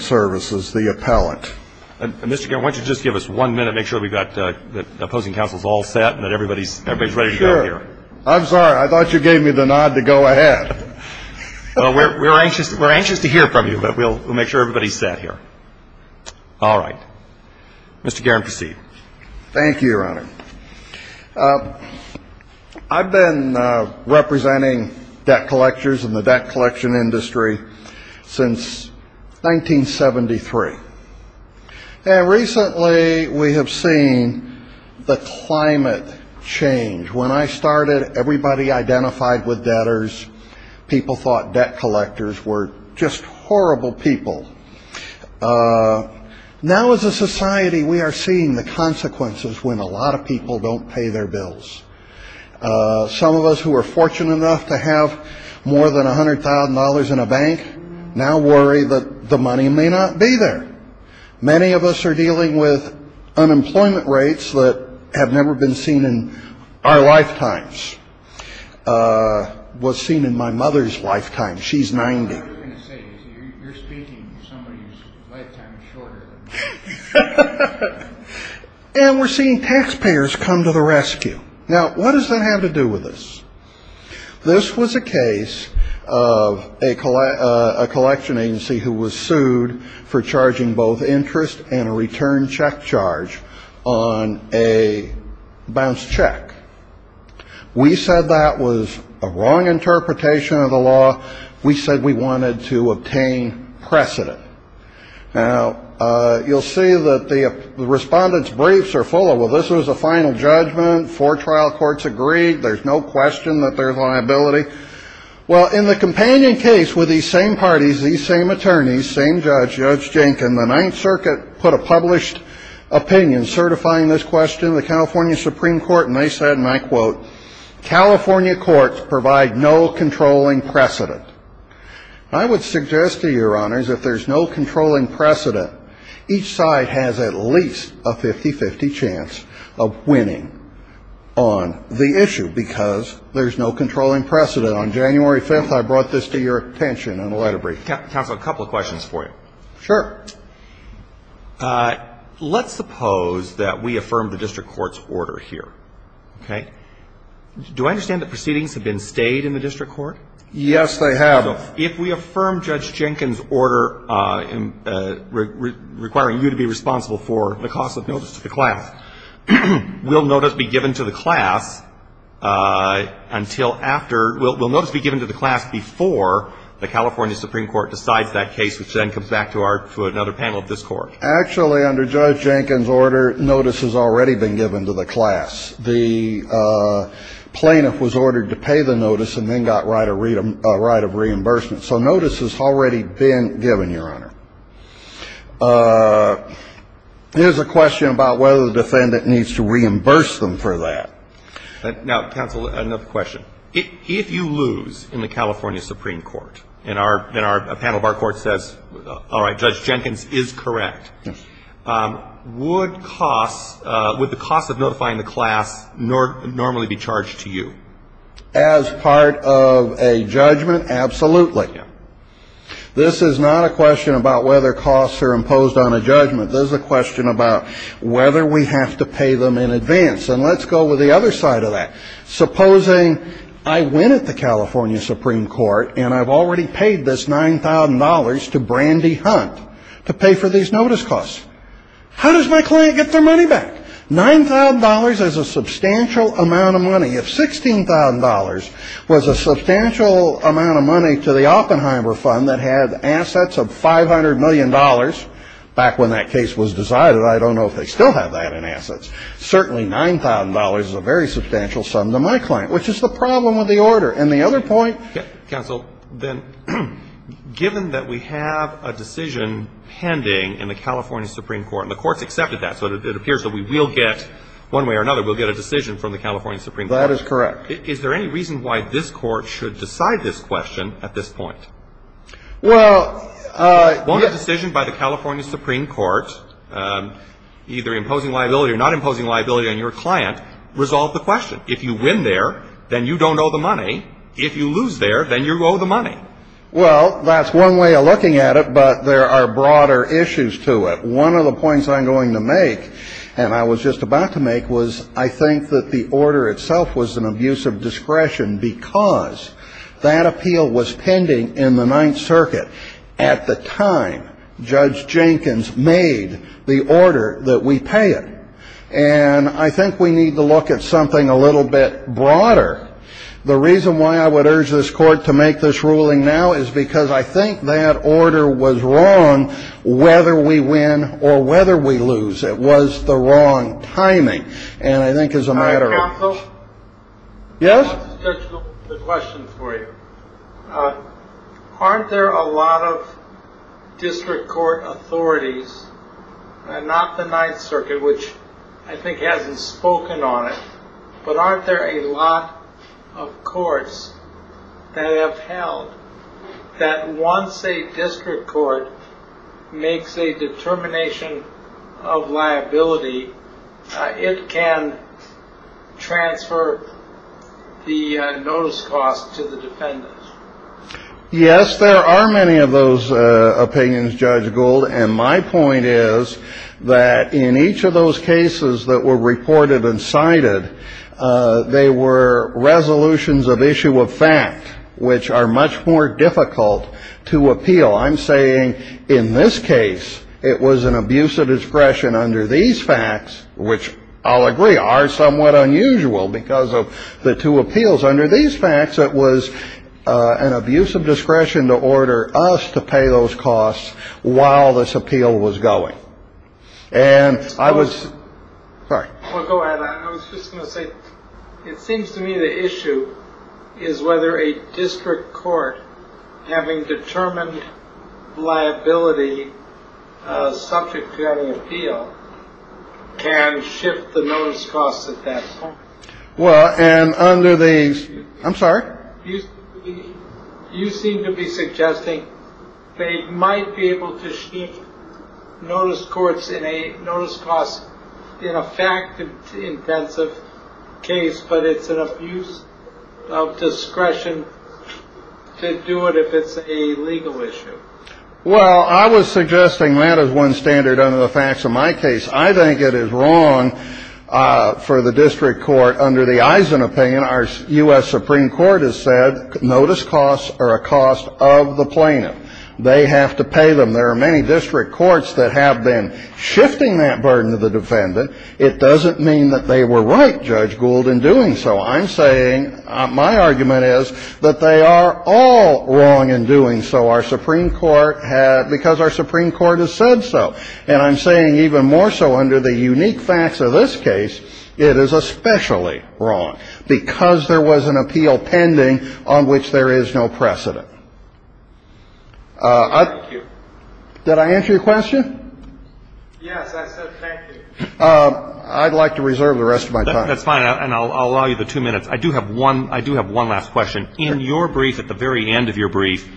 Services, the appellant. Mr. Garen, why don't you just give us one minute, make sure we've got the opposing counsels all set and that everybody's ready to go out here. I'm sorry, I thought you gave me the nod to go ahead. We're anxious to hear from you, but we'll make sure everybody's set here. All right. Mr. Garen, proceed. I've been paying debt collectors in the debt collection industry since 1973. And recently we have seen the climate change. When I started, everybody identified with debtors. People thought debt collectors were just horrible people. Now as a society, we are seeing the consequences when a lot of people don't pay their bills. Some of us who are fortunate enough to have more than $100,000 in a bank now worry that the money may not be there. Many of us are dealing with unemployment rates that have never been seen in our lifetimes. Was seen in my mother's lifetime. She's 90. You're speaking to somebody whose lifetime is shorter than mine. And we're seeing taxpayers come to the rescue. Now, what does that have to do with this? This was a case of a collection agency who was sued for charging both interest and a return check charge on a bounced check. We said that was a wrong interpretation of the law. We said we wanted to obtain precedent. Now, you'll see that the respondent's briefs are full of, well, this was a final judgment. Four trial courts agreed. There's no question that there's liability. Well, in the companion case with these same parties, these same attorneys, same judge, Judge Jenkins, the Ninth Circuit put a published opinion certifying this question to the California Supreme Court. And they said, and I quote, California courts provide no controlling precedent. I would suggest to Your Honors, if there's no controlling precedent, each side has at least a 50-50 chance of winning on the issue because there's no controlling precedent. On January 5th, I brought this to your attention in a letter brief. Counsel, a couple of questions for you. Sure. Let's suppose that we affirm the district court's order here. Okay? Do I understand that proceedings have been stayed in the district court? Yes, they have. So if we affirm Judge Jenkins' order requiring you to be responsible for the cost of notice to the class, will notice be given to the class until after, will notice be given to the class before the California Supreme Court decides that case, which then comes back to our, to another panel of this Court? Actually, under Judge Jenkins' order, notice has already been given to the class. The plaintiff was ordered to pay the notice and then got right of reimbursement. So notice has already been given, Your Honor. There's a question about whether the defendant needs to reimburse them for that. Now, counsel, another question. If you lose in the California Supreme Court and our panel of our Court says, all right, Judge Jenkins is correct, would costs, would the cost of notifying the class normally be charged to you? As part of a judgment, absolutely. This is not a question about whether costs are imposed on a judgment. This is a question about whether we have to pay them in advance. And let's go with the other side of that. Supposing I win at the California Supreme Court and I've already paid this $9,000 to Brandy Hunt to pay for these notice costs. How does my client get their money back? $9,000 is a substantial amount of money. If $16,000 was a substantial amount of money to the Oppenheimer Fund that had assets of $500 million, back when that case was decided, I don't know if they still have that in assets. Certainly $9,000 is a very substantial sum to my client, which is the problem with the order. And the other point ---- Counsel, then, given that we have a decision pending in the California Supreme Court and the Court's accepted that, so it appears that we will get, one way or another, we'll get a decision from the California Supreme Court. That is correct. Is there any reason why this Court should decide this question at this point? Well, yes. If it's a decision by the California Supreme Court, either imposing liability or not imposing liability on your client, resolve the question. If you win there, then you don't owe the money. If you lose there, then you owe the money. Well, that's one way of looking at it, but there are broader issues to it. One of the points I'm going to make, and I was just about to make, was I think that the order itself was an abuse of discretion because that appeal was pending in the Ninth Circuit. At the time, Judge Jenkins made the order that we pay it. And I think we need to look at something a little bit broader. The reason why I would urge this Court to make this ruling now is because I think that order was wrong, whether we win or whether we lose. It was the wrong timing, and I think it's a matter of ---- Counsel? Yes? I wanted to touch the question for you. Aren't there a lot of district court authorities, not the Ninth Circuit, which I think hasn't spoken on it, but aren't there a lot of courts that have held that once a district court makes a determination of liability, it can transfer the notice cost to the defendant? Yes, there are many of those opinions, Judge Gould, and my point is that in each of those cases that were reported and cited, they were resolutions of issue of fact, which are much more difficult to appeal. I'm saying in this case it was an abuse of discretion under these facts, which I'll agree are somewhat unusual because of the two appeals. Under these facts, it was an abuse of discretion to order us to pay those costs while this appeal was going. And I was ---- Well, go ahead. I was just going to say it seems to me the issue is whether a district court having determined liability subject to having an appeal can shift the notice costs at that point. Well, and under the ---- I'm sorry? You seem to be suggesting they might be able to shift notice costs in a fact-intensive case, but it's an abuse of discretion to do it if it's a legal issue. Well, I was suggesting that as one standard under the facts of my case. I think it is wrong for the district court under the Eisen opinion. Our U.S. Supreme Court has said notice costs are a cost of the plaintiff. They have to pay them. There are many district courts that have been shifting that burden to the defendant. It doesn't mean that they were right, Judge Gould, in doing so. I'm saying my argument is that they are all wrong in doing so. Our Supreme Court had ---- because our Supreme Court has said so. And I'm saying even more so under the unique facts of this case, it is especially wrong because there was an appeal pending on which there is no precedent. Thank you. Did I answer your question? Yes, I said thank you. I'd like to reserve the rest of my time. That's fine. And I'll allow you the two minutes. I do have one last question. In your brief, at the very end of your brief,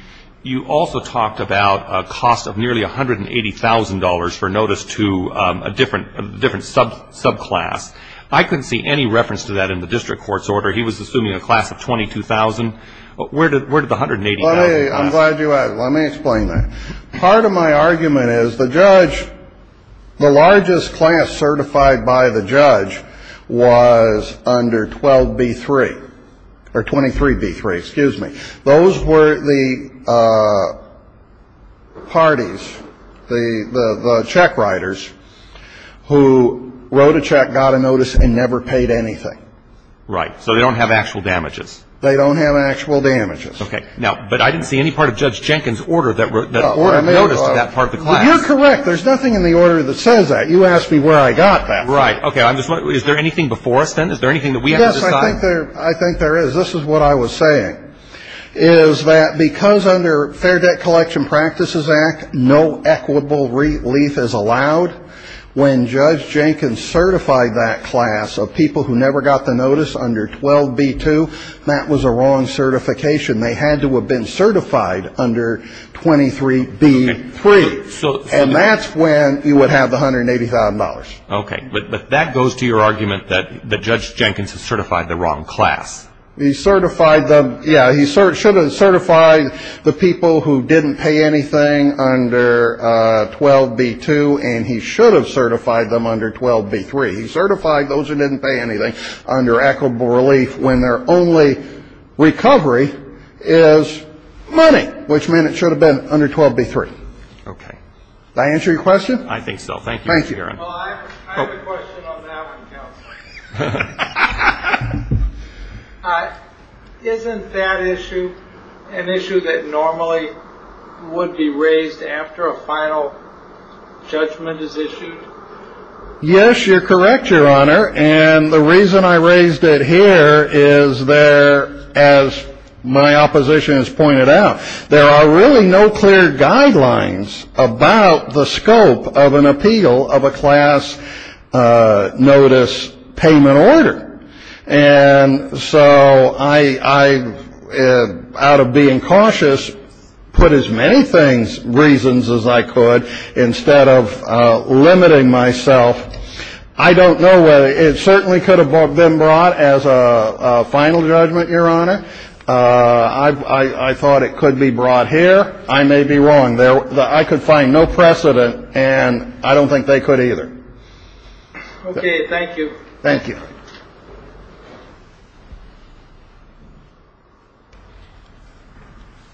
you also talked about a cost of nearly $180,000 for notice to a different subclass. I couldn't see any reference to that in the district court's order. He was assuming a class of $22,000. Where did the $180,000 come from? I'm glad you asked. Let me explain that. Part of my argument is the judge, the largest class certified by the judge was under 12B3 or 23B3. Excuse me. Those were the parties, the check writers, who wrote a check, got a notice, and never paid anything. Right. So they don't have actual damages. They don't have actual damages. Okay. Now, but I didn't see any part of Judge Jenkins' order that ordered notice to that part of the class. You're correct. There's nothing in the order that says that. You asked me where I got that from. Right. Okay. Is there anything before us, then? Is there anything that we have to decide? Yes, I think there is. This is what I was saying, is that because under Fair Debt Collection Practices Act, no equitable relief is allowed, when Judge Jenkins certified that class of people who never got the notice under 12B2, that was a wrong certification. They had to have been certified under 23B3. And that's when you would have the $180,000. Okay. But that goes to your argument that Judge Jenkins has certified the wrong class. He certified them. Yeah. He should have certified the people who didn't pay anything under 12B2, and he should have certified them under 12B3. He certified those who didn't pay anything under equitable relief when their only recovery is money, which meant it should have been under 12B3. Okay. Did I answer your question? I think so. Thank you. I have a question on that one, Counsel. Isn't that issue an issue that normally would be raised after a final judgment is issued? Yes, you're correct, Your Honor. And the reason I raised it here is there, as my opposition has pointed out, there are really no clear guidelines about the scope of an appeal of a class notice payment order. And so I, out of being cautious, put as many reasons as I could instead of limiting myself. I don't know whether it certainly could have been brought as a final judgment, Your Honor. I thought it could be brought here. I may be wrong. I could find no precedent, and I don't think they could either. Okay. Thank you. Thank you.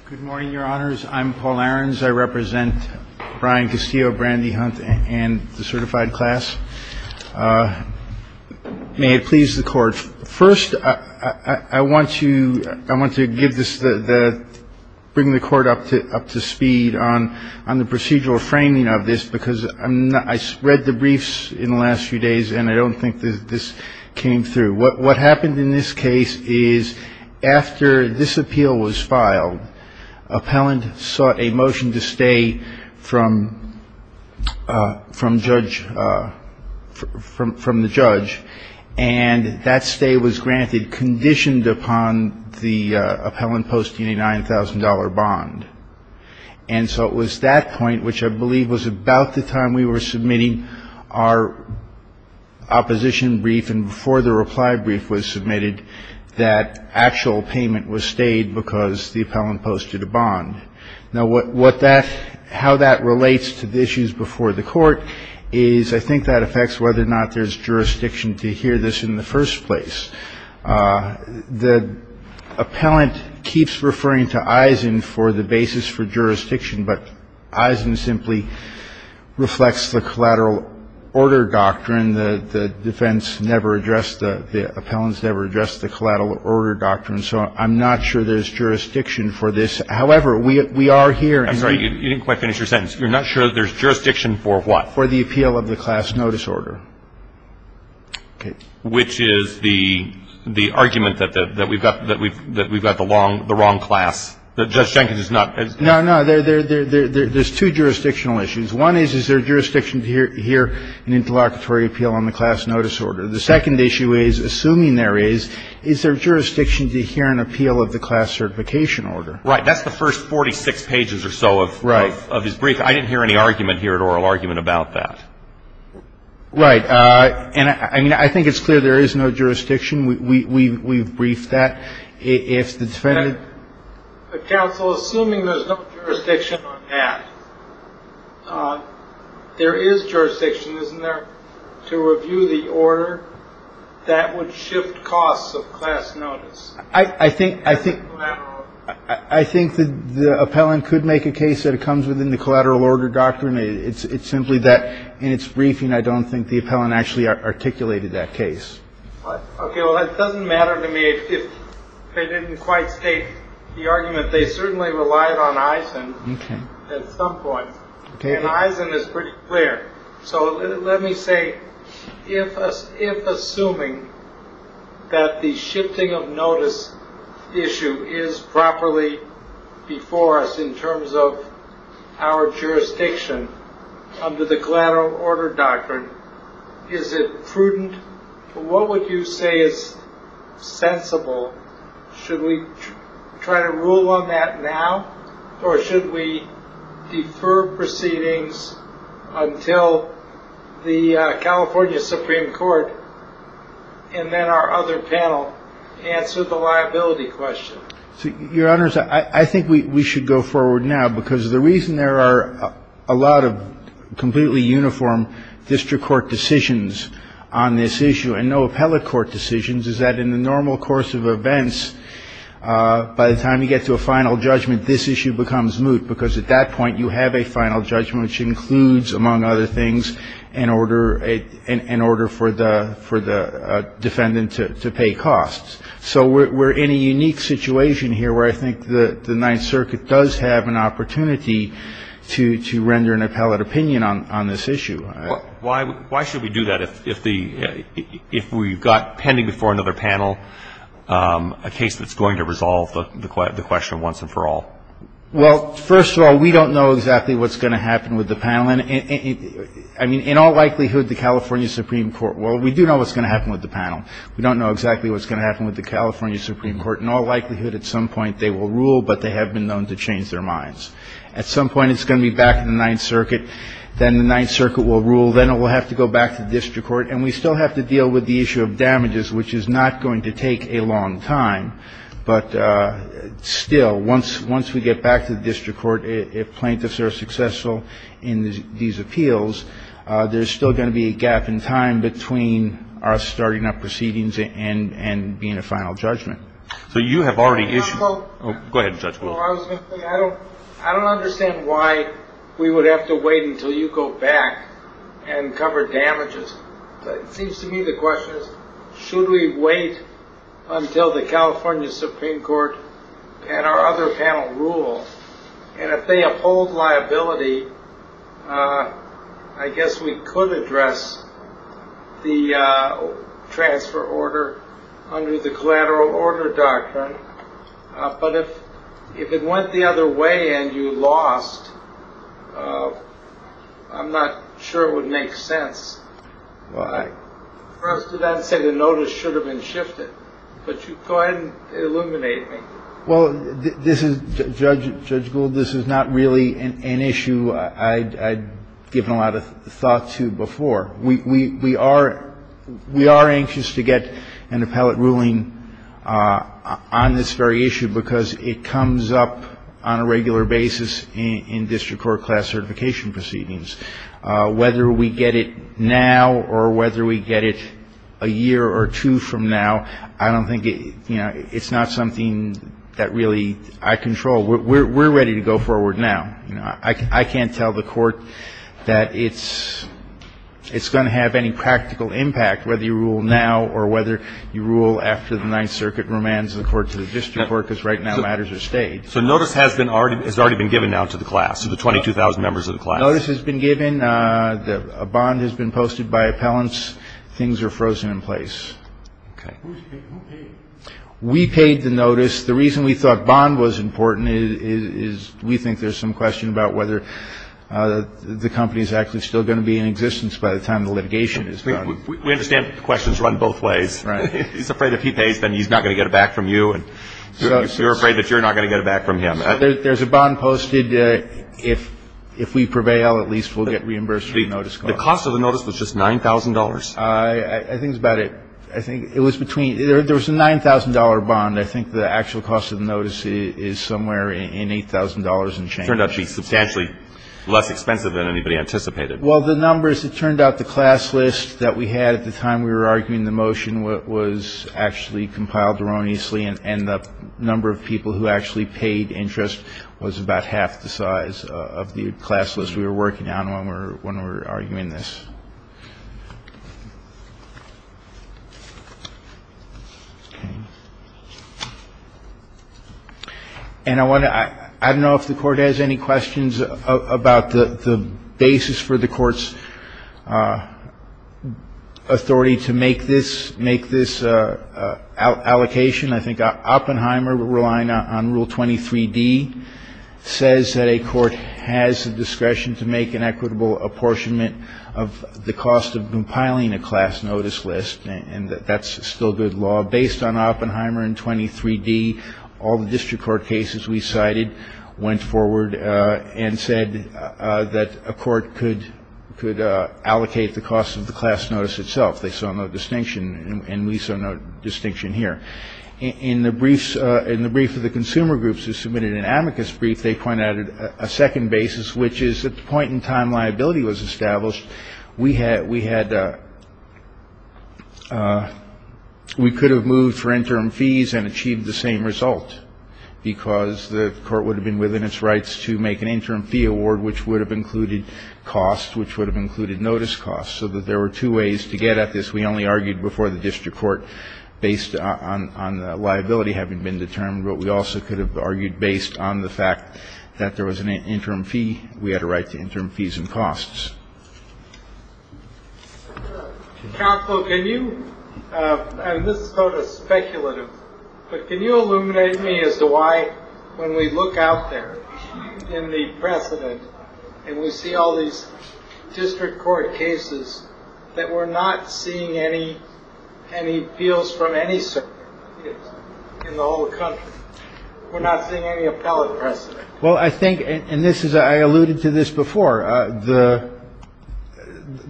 Good morning, Your Honors. I'm Paul Ahrens. I represent Brian Castillo, Brandy Hunt, and the certified class. May it please the Court. First, I want to give this, bring the Court up to speed on the procedural framing of this, because I read the briefs in the last few days, and I don't think that this came through. What happened in this case is after this appeal was filed, appellant sought a motion to stay from judge, from the judge, and that stay was granted conditioned upon the appellant posting a $9,000 bond. And so it was that point, which I believe was about the time we were submitting our opposition brief, and before the reply brief was submitted, that actual payment was stayed because the appellant posted a bond. Now, what that, how that relates to the issues before the Court is, I think that affects whether or not there's jurisdiction to hear this in the first place. The appellant keeps referring to Eisen for the basis for jurisdiction, but Eisen simply reflects the collateral order doctrine. The defense never addressed, the appellants never addressed the collateral order doctrine. So I'm not sure there's jurisdiction for this. However, we are here. I'm sorry. You didn't quite finish your sentence. You're not sure there's jurisdiction for what? For the appeal of the class notice order. Okay. Which is the argument that we've got the wrong class, that Judge Jenkins is not. No, no. There's two jurisdictional issues. One is, is there jurisdiction to hear an interlocutory appeal on the class notice order? The second issue is, assuming there is, is there jurisdiction to hear an appeal of the class certification order? Right. That's the first 46 pages or so of his brief. I didn't hear any argument here, oral argument about that. Right. And I mean, I think it's clear there is no jurisdiction. We've briefed that. Counsel, assuming there's no jurisdiction on that, there is jurisdiction, isn't there, to review the order that would shift costs of class notice? I think, I think, I think the appellant could make a case that it comes within the collateral order doctrine. It's simply that in its briefing, I don't think the appellant actually articulated that case. It doesn't matter to me if they didn't quite state the argument. They certainly relied on Eisen at some point. And Eisen is pretty clear. So let me say if if assuming that the shifting of notice issue is properly before us in terms of our jurisdiction under the collateral order doctrine. Is it prudent? What would you say is sensible? Should we try to rule on that now? Or should we defer proceedings until the California Supreme Court and then our other panel answer the liability question? So, Your Honors, I think we should go forward now because the reason there are a lot of completely uniform district court decisions on this issue and no appellate court decisions is that in the normal course of events, by the time you get to a final judgment, this issue becomes moot because at that point you have a final judgment, which includes, among other things, an order, an order for the for the defendant to pay costs. So we're in a unique situation here where I think the Ninth Circuit does have an opportunity to render an appellate opinion on this issue. Why should we do that if we've got pending before another panel a case that's going to resolve the question once and for all? Well, first of all, we don't know exactly what's going to happen with the panel. I mean, in all likelihood, the California Supreme Court, well, we do know what's going to happen with the panel. We don't know exactly what's going to happen with the California Supreme Court. In all likelihood, at some point, they will rule, but they have been known to change their minds. At some point, it's going to be back in the Ninth Circuit. Then the Ninth Circuit will rule. Then it will have to go back to the district court. And we still have to deal with the issue of damages, which is not going to take a long time. But still, once we get back to the district court, if plaintiffs are successful in these appeals, there's still going to be a gap in time between our starting up proceedings and being a final judgment. So you have already issued. Go ahead, Judge. I don't understand why we would have to wait until you go back and cover damages. It seems to me the question is, should we wait until the California Supreme Court and our other panel rule? And if they uphold liability, I guess we could address the transfer order under the collateral order doctrine. But if it went the other way and you lost, I'm not sure it would make sense. Well, I first did not say the notice should have been shifted. But you go ahead and illuminate me. Well, this is, Judge Gould, this is not really an issue I'd given a lot of thought to before. We are anxious to get an appellate ruling on this very issue because it comes up on a regular basis in district court class certification proceedings. Whether we get it now or whether we get it a year or two from now, I don't think it's not something that really I control. We're ready to go forward now. I can't tell the Court that it's going to have any practical impact whether you rule now or whether you rule after the Ninth Circuit remands the Court to the district court because right now matters are staged. So notice has already been given now to the class, to the 22,000 members of the class. Notice has been given. A bond has been posted by appellants. Things are frozen in place. Okay. Who paid? We paid the notice. The reason we thought bond was important is we think there's some question about whether the company is actually still going to be in existence by the time the litigation is done. We understand questions run both ways. Right. He's afraid if he pays, then he's not going to get it back from you. And you're afraid that you're not going to get it back from him. There's a bond posted. If we prevail, at least we'll get reimbursed for the notice. The cost of the notice was just $9,000. I think that's about it. I think it was between — there was a $9,000 bond. I think the actual cost of the notice is somewhere in $8,000 and change. It turned out to be substantially less expensive than anybody anticipated. Well, the numbers, it turned out the class list that we had at the time we were arguing the motion was actually compiled erroneously, and the number of people who actually paid interest was about half the size of the class list we were working on when we were arguing this. Okay. And I want to — I don't know if the Court has any questions about the basis for the Court's authority to make this — make this allocation. I think Oppenheimer, relying on Rule 23d, says that a court has the discretion to make an equitable apportionment of the cost of compiling a class notice list, and that's still good law. Based on Oppenheimer and 23d, all the district court cases we cited went forward and said that a court could allocate the cost of the class notice itself. They saw no distinction, and we saw no distinction here. In the briefs — in the brief of the consumer groups who submitted an amicus brief, they pointed out a second basis, which is at the point in time liability was established, we had — we had — we could have moved for interim fees and achieved the same result because the court would have been within its rights to make an interim fee award, which would have included cost, which would have included notice cost, so that there were two ways to get at this. We only argued before the district court based on the liability having been determined, but we also could have argued based on the fact that there was an interim fee. We had a right to interim fees and costs. Counsel, can you — and this is sort of speculative, but can you illuminate me as to why, when we look out there in the precedent and we see all these district court cases, that we're not seeing any appeals from any circuit in the whole country? We're not seeing any appellate precedent? Well, I think — and this is — I alluded to this before.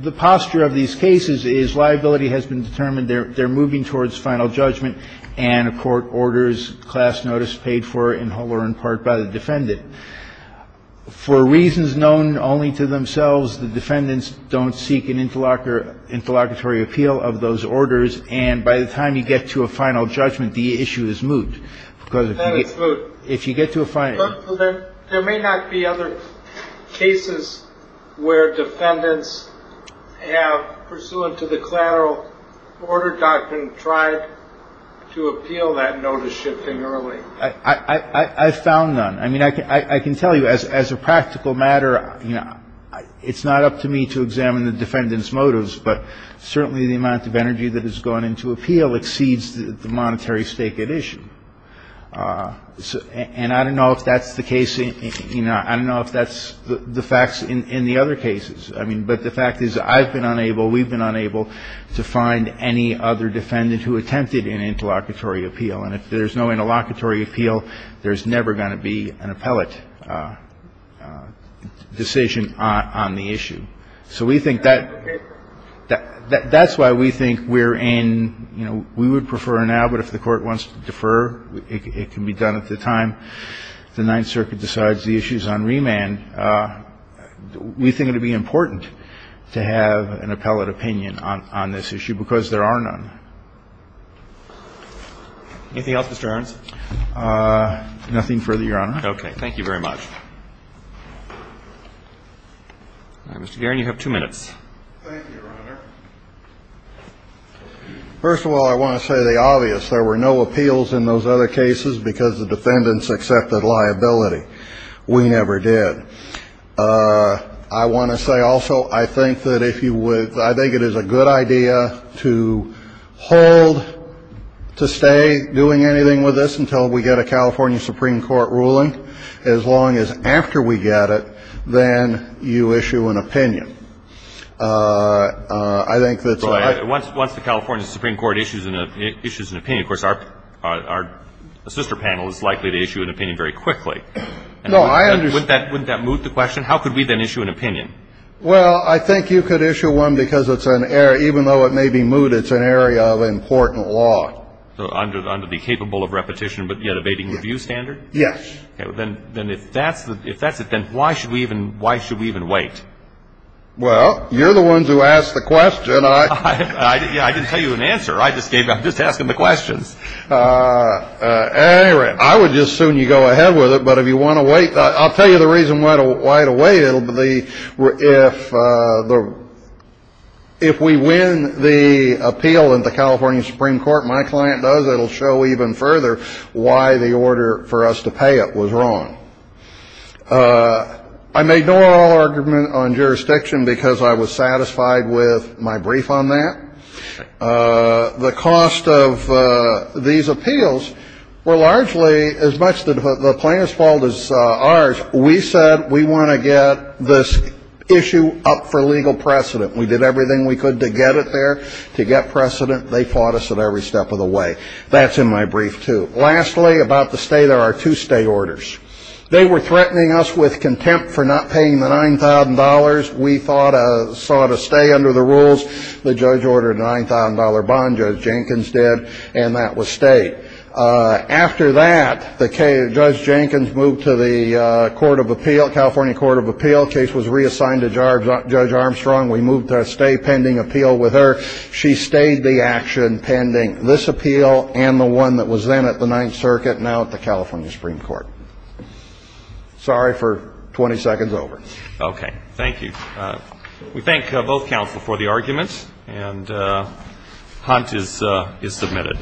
The posture of these cases is liability has been determined. They're moving towards final judgment, and a court orders class notice paid for in whole or in part by the defendant. For reasons known only to themselves, the defendants don't seek an interlocutory appeal of those orders, and by the time you get to a final judgment, the issue is moot. Because if you get to a final — But there may not be other cases where defendants have, pursuant to the collateral order doctrine, tried to appeal that notice shipping early. I found none. I mean, I can tell you as a practical matter, you know, it's not up to me to examine the defendant's motives, but certainly the amount of energy that has gone into appeal exceeds the monetary stake at issue. And I don't know if that's the case — you know, I don't know if that's the facts in the other cases. I mean, but the fact is I've been unable, we've been unable to find any other defendant who attempted an interlocutory appeal, and if there's no interlocutory appeal, there's never going to be an appellate decision on the issue. So we think that — That's why we think we're in, you know, we would prefer now, but if the Court wants to defer, it can be done at the time the Ninth Circuit decides the issue is on remand. We think it would be important to have an appellate opinion on this issue because there are none. Anything else, Mr. Arons? Nothing further, Your Honor. Okay. Thank you very much. All right. Mr. Guerin, you have two minutes. Thank you, Your Honor. First of all, I want to say the obvious. There were no appeals in those other cases because the defendants accepted liability. We never did. I want to say, also, I think that if you would — I think it is a good idea to hold to stay doing anything with this until we get a California Supreme Court ruling. As long as after we get it, then you issue an opinion. I think that's — Once the California Supreme Court issues an opinion, of course, our sister panel is likely to issue an opinion very quickly. No, I understand. Wouldn't that moot the question? How could we then issue an opinion? Well, I think you could issue one because it's an error. It's an area of important law. Under the capable of repetition but yet abating view standard? Yes. Okay. Then if that's it, then why should we even wait? Well, you're the ones who asked the question. I didn't tell you an answer. I just gave — I'm just asking the questions. At any rate, I would just assume you go ahead with it. But if you want to wait, I'll tell you the reason why to wait. If we win the appeal in the California Supreme Court, my client does, it will show even further why the order for us to pay it was wrong. I made no oral argument on jurisdiction because I was satisfied with my brief on that. The cost of these appeals were largely as much the plaintiff's fault as ours. We said we want to get this issue up for legal precedent. We did everything we could to get it there, to get precedent. They fought us at every step of the way. That's in my brief, too. Lastly, about the stay, there are two stay orders. They were threatening us with contempt for not paying the $9,000. We sought a stay under the rules. The judge ordered a $9,000 bond. Judge Jenkins did. And that was stayed. After that, Judge Jenkins moved to the Court of Appeal, California Court of Appeal. Case was reassigned to Judge Armstrong. We moved to a stay pending appeal with her. She stayed the action pending this appeal and the one that was then at the Ninth Circuit, now at the California Supreme Court. Sorry for 20 seconds over. Okay. Thank you. We thank both counsel for the argument. And Hunt is submitted.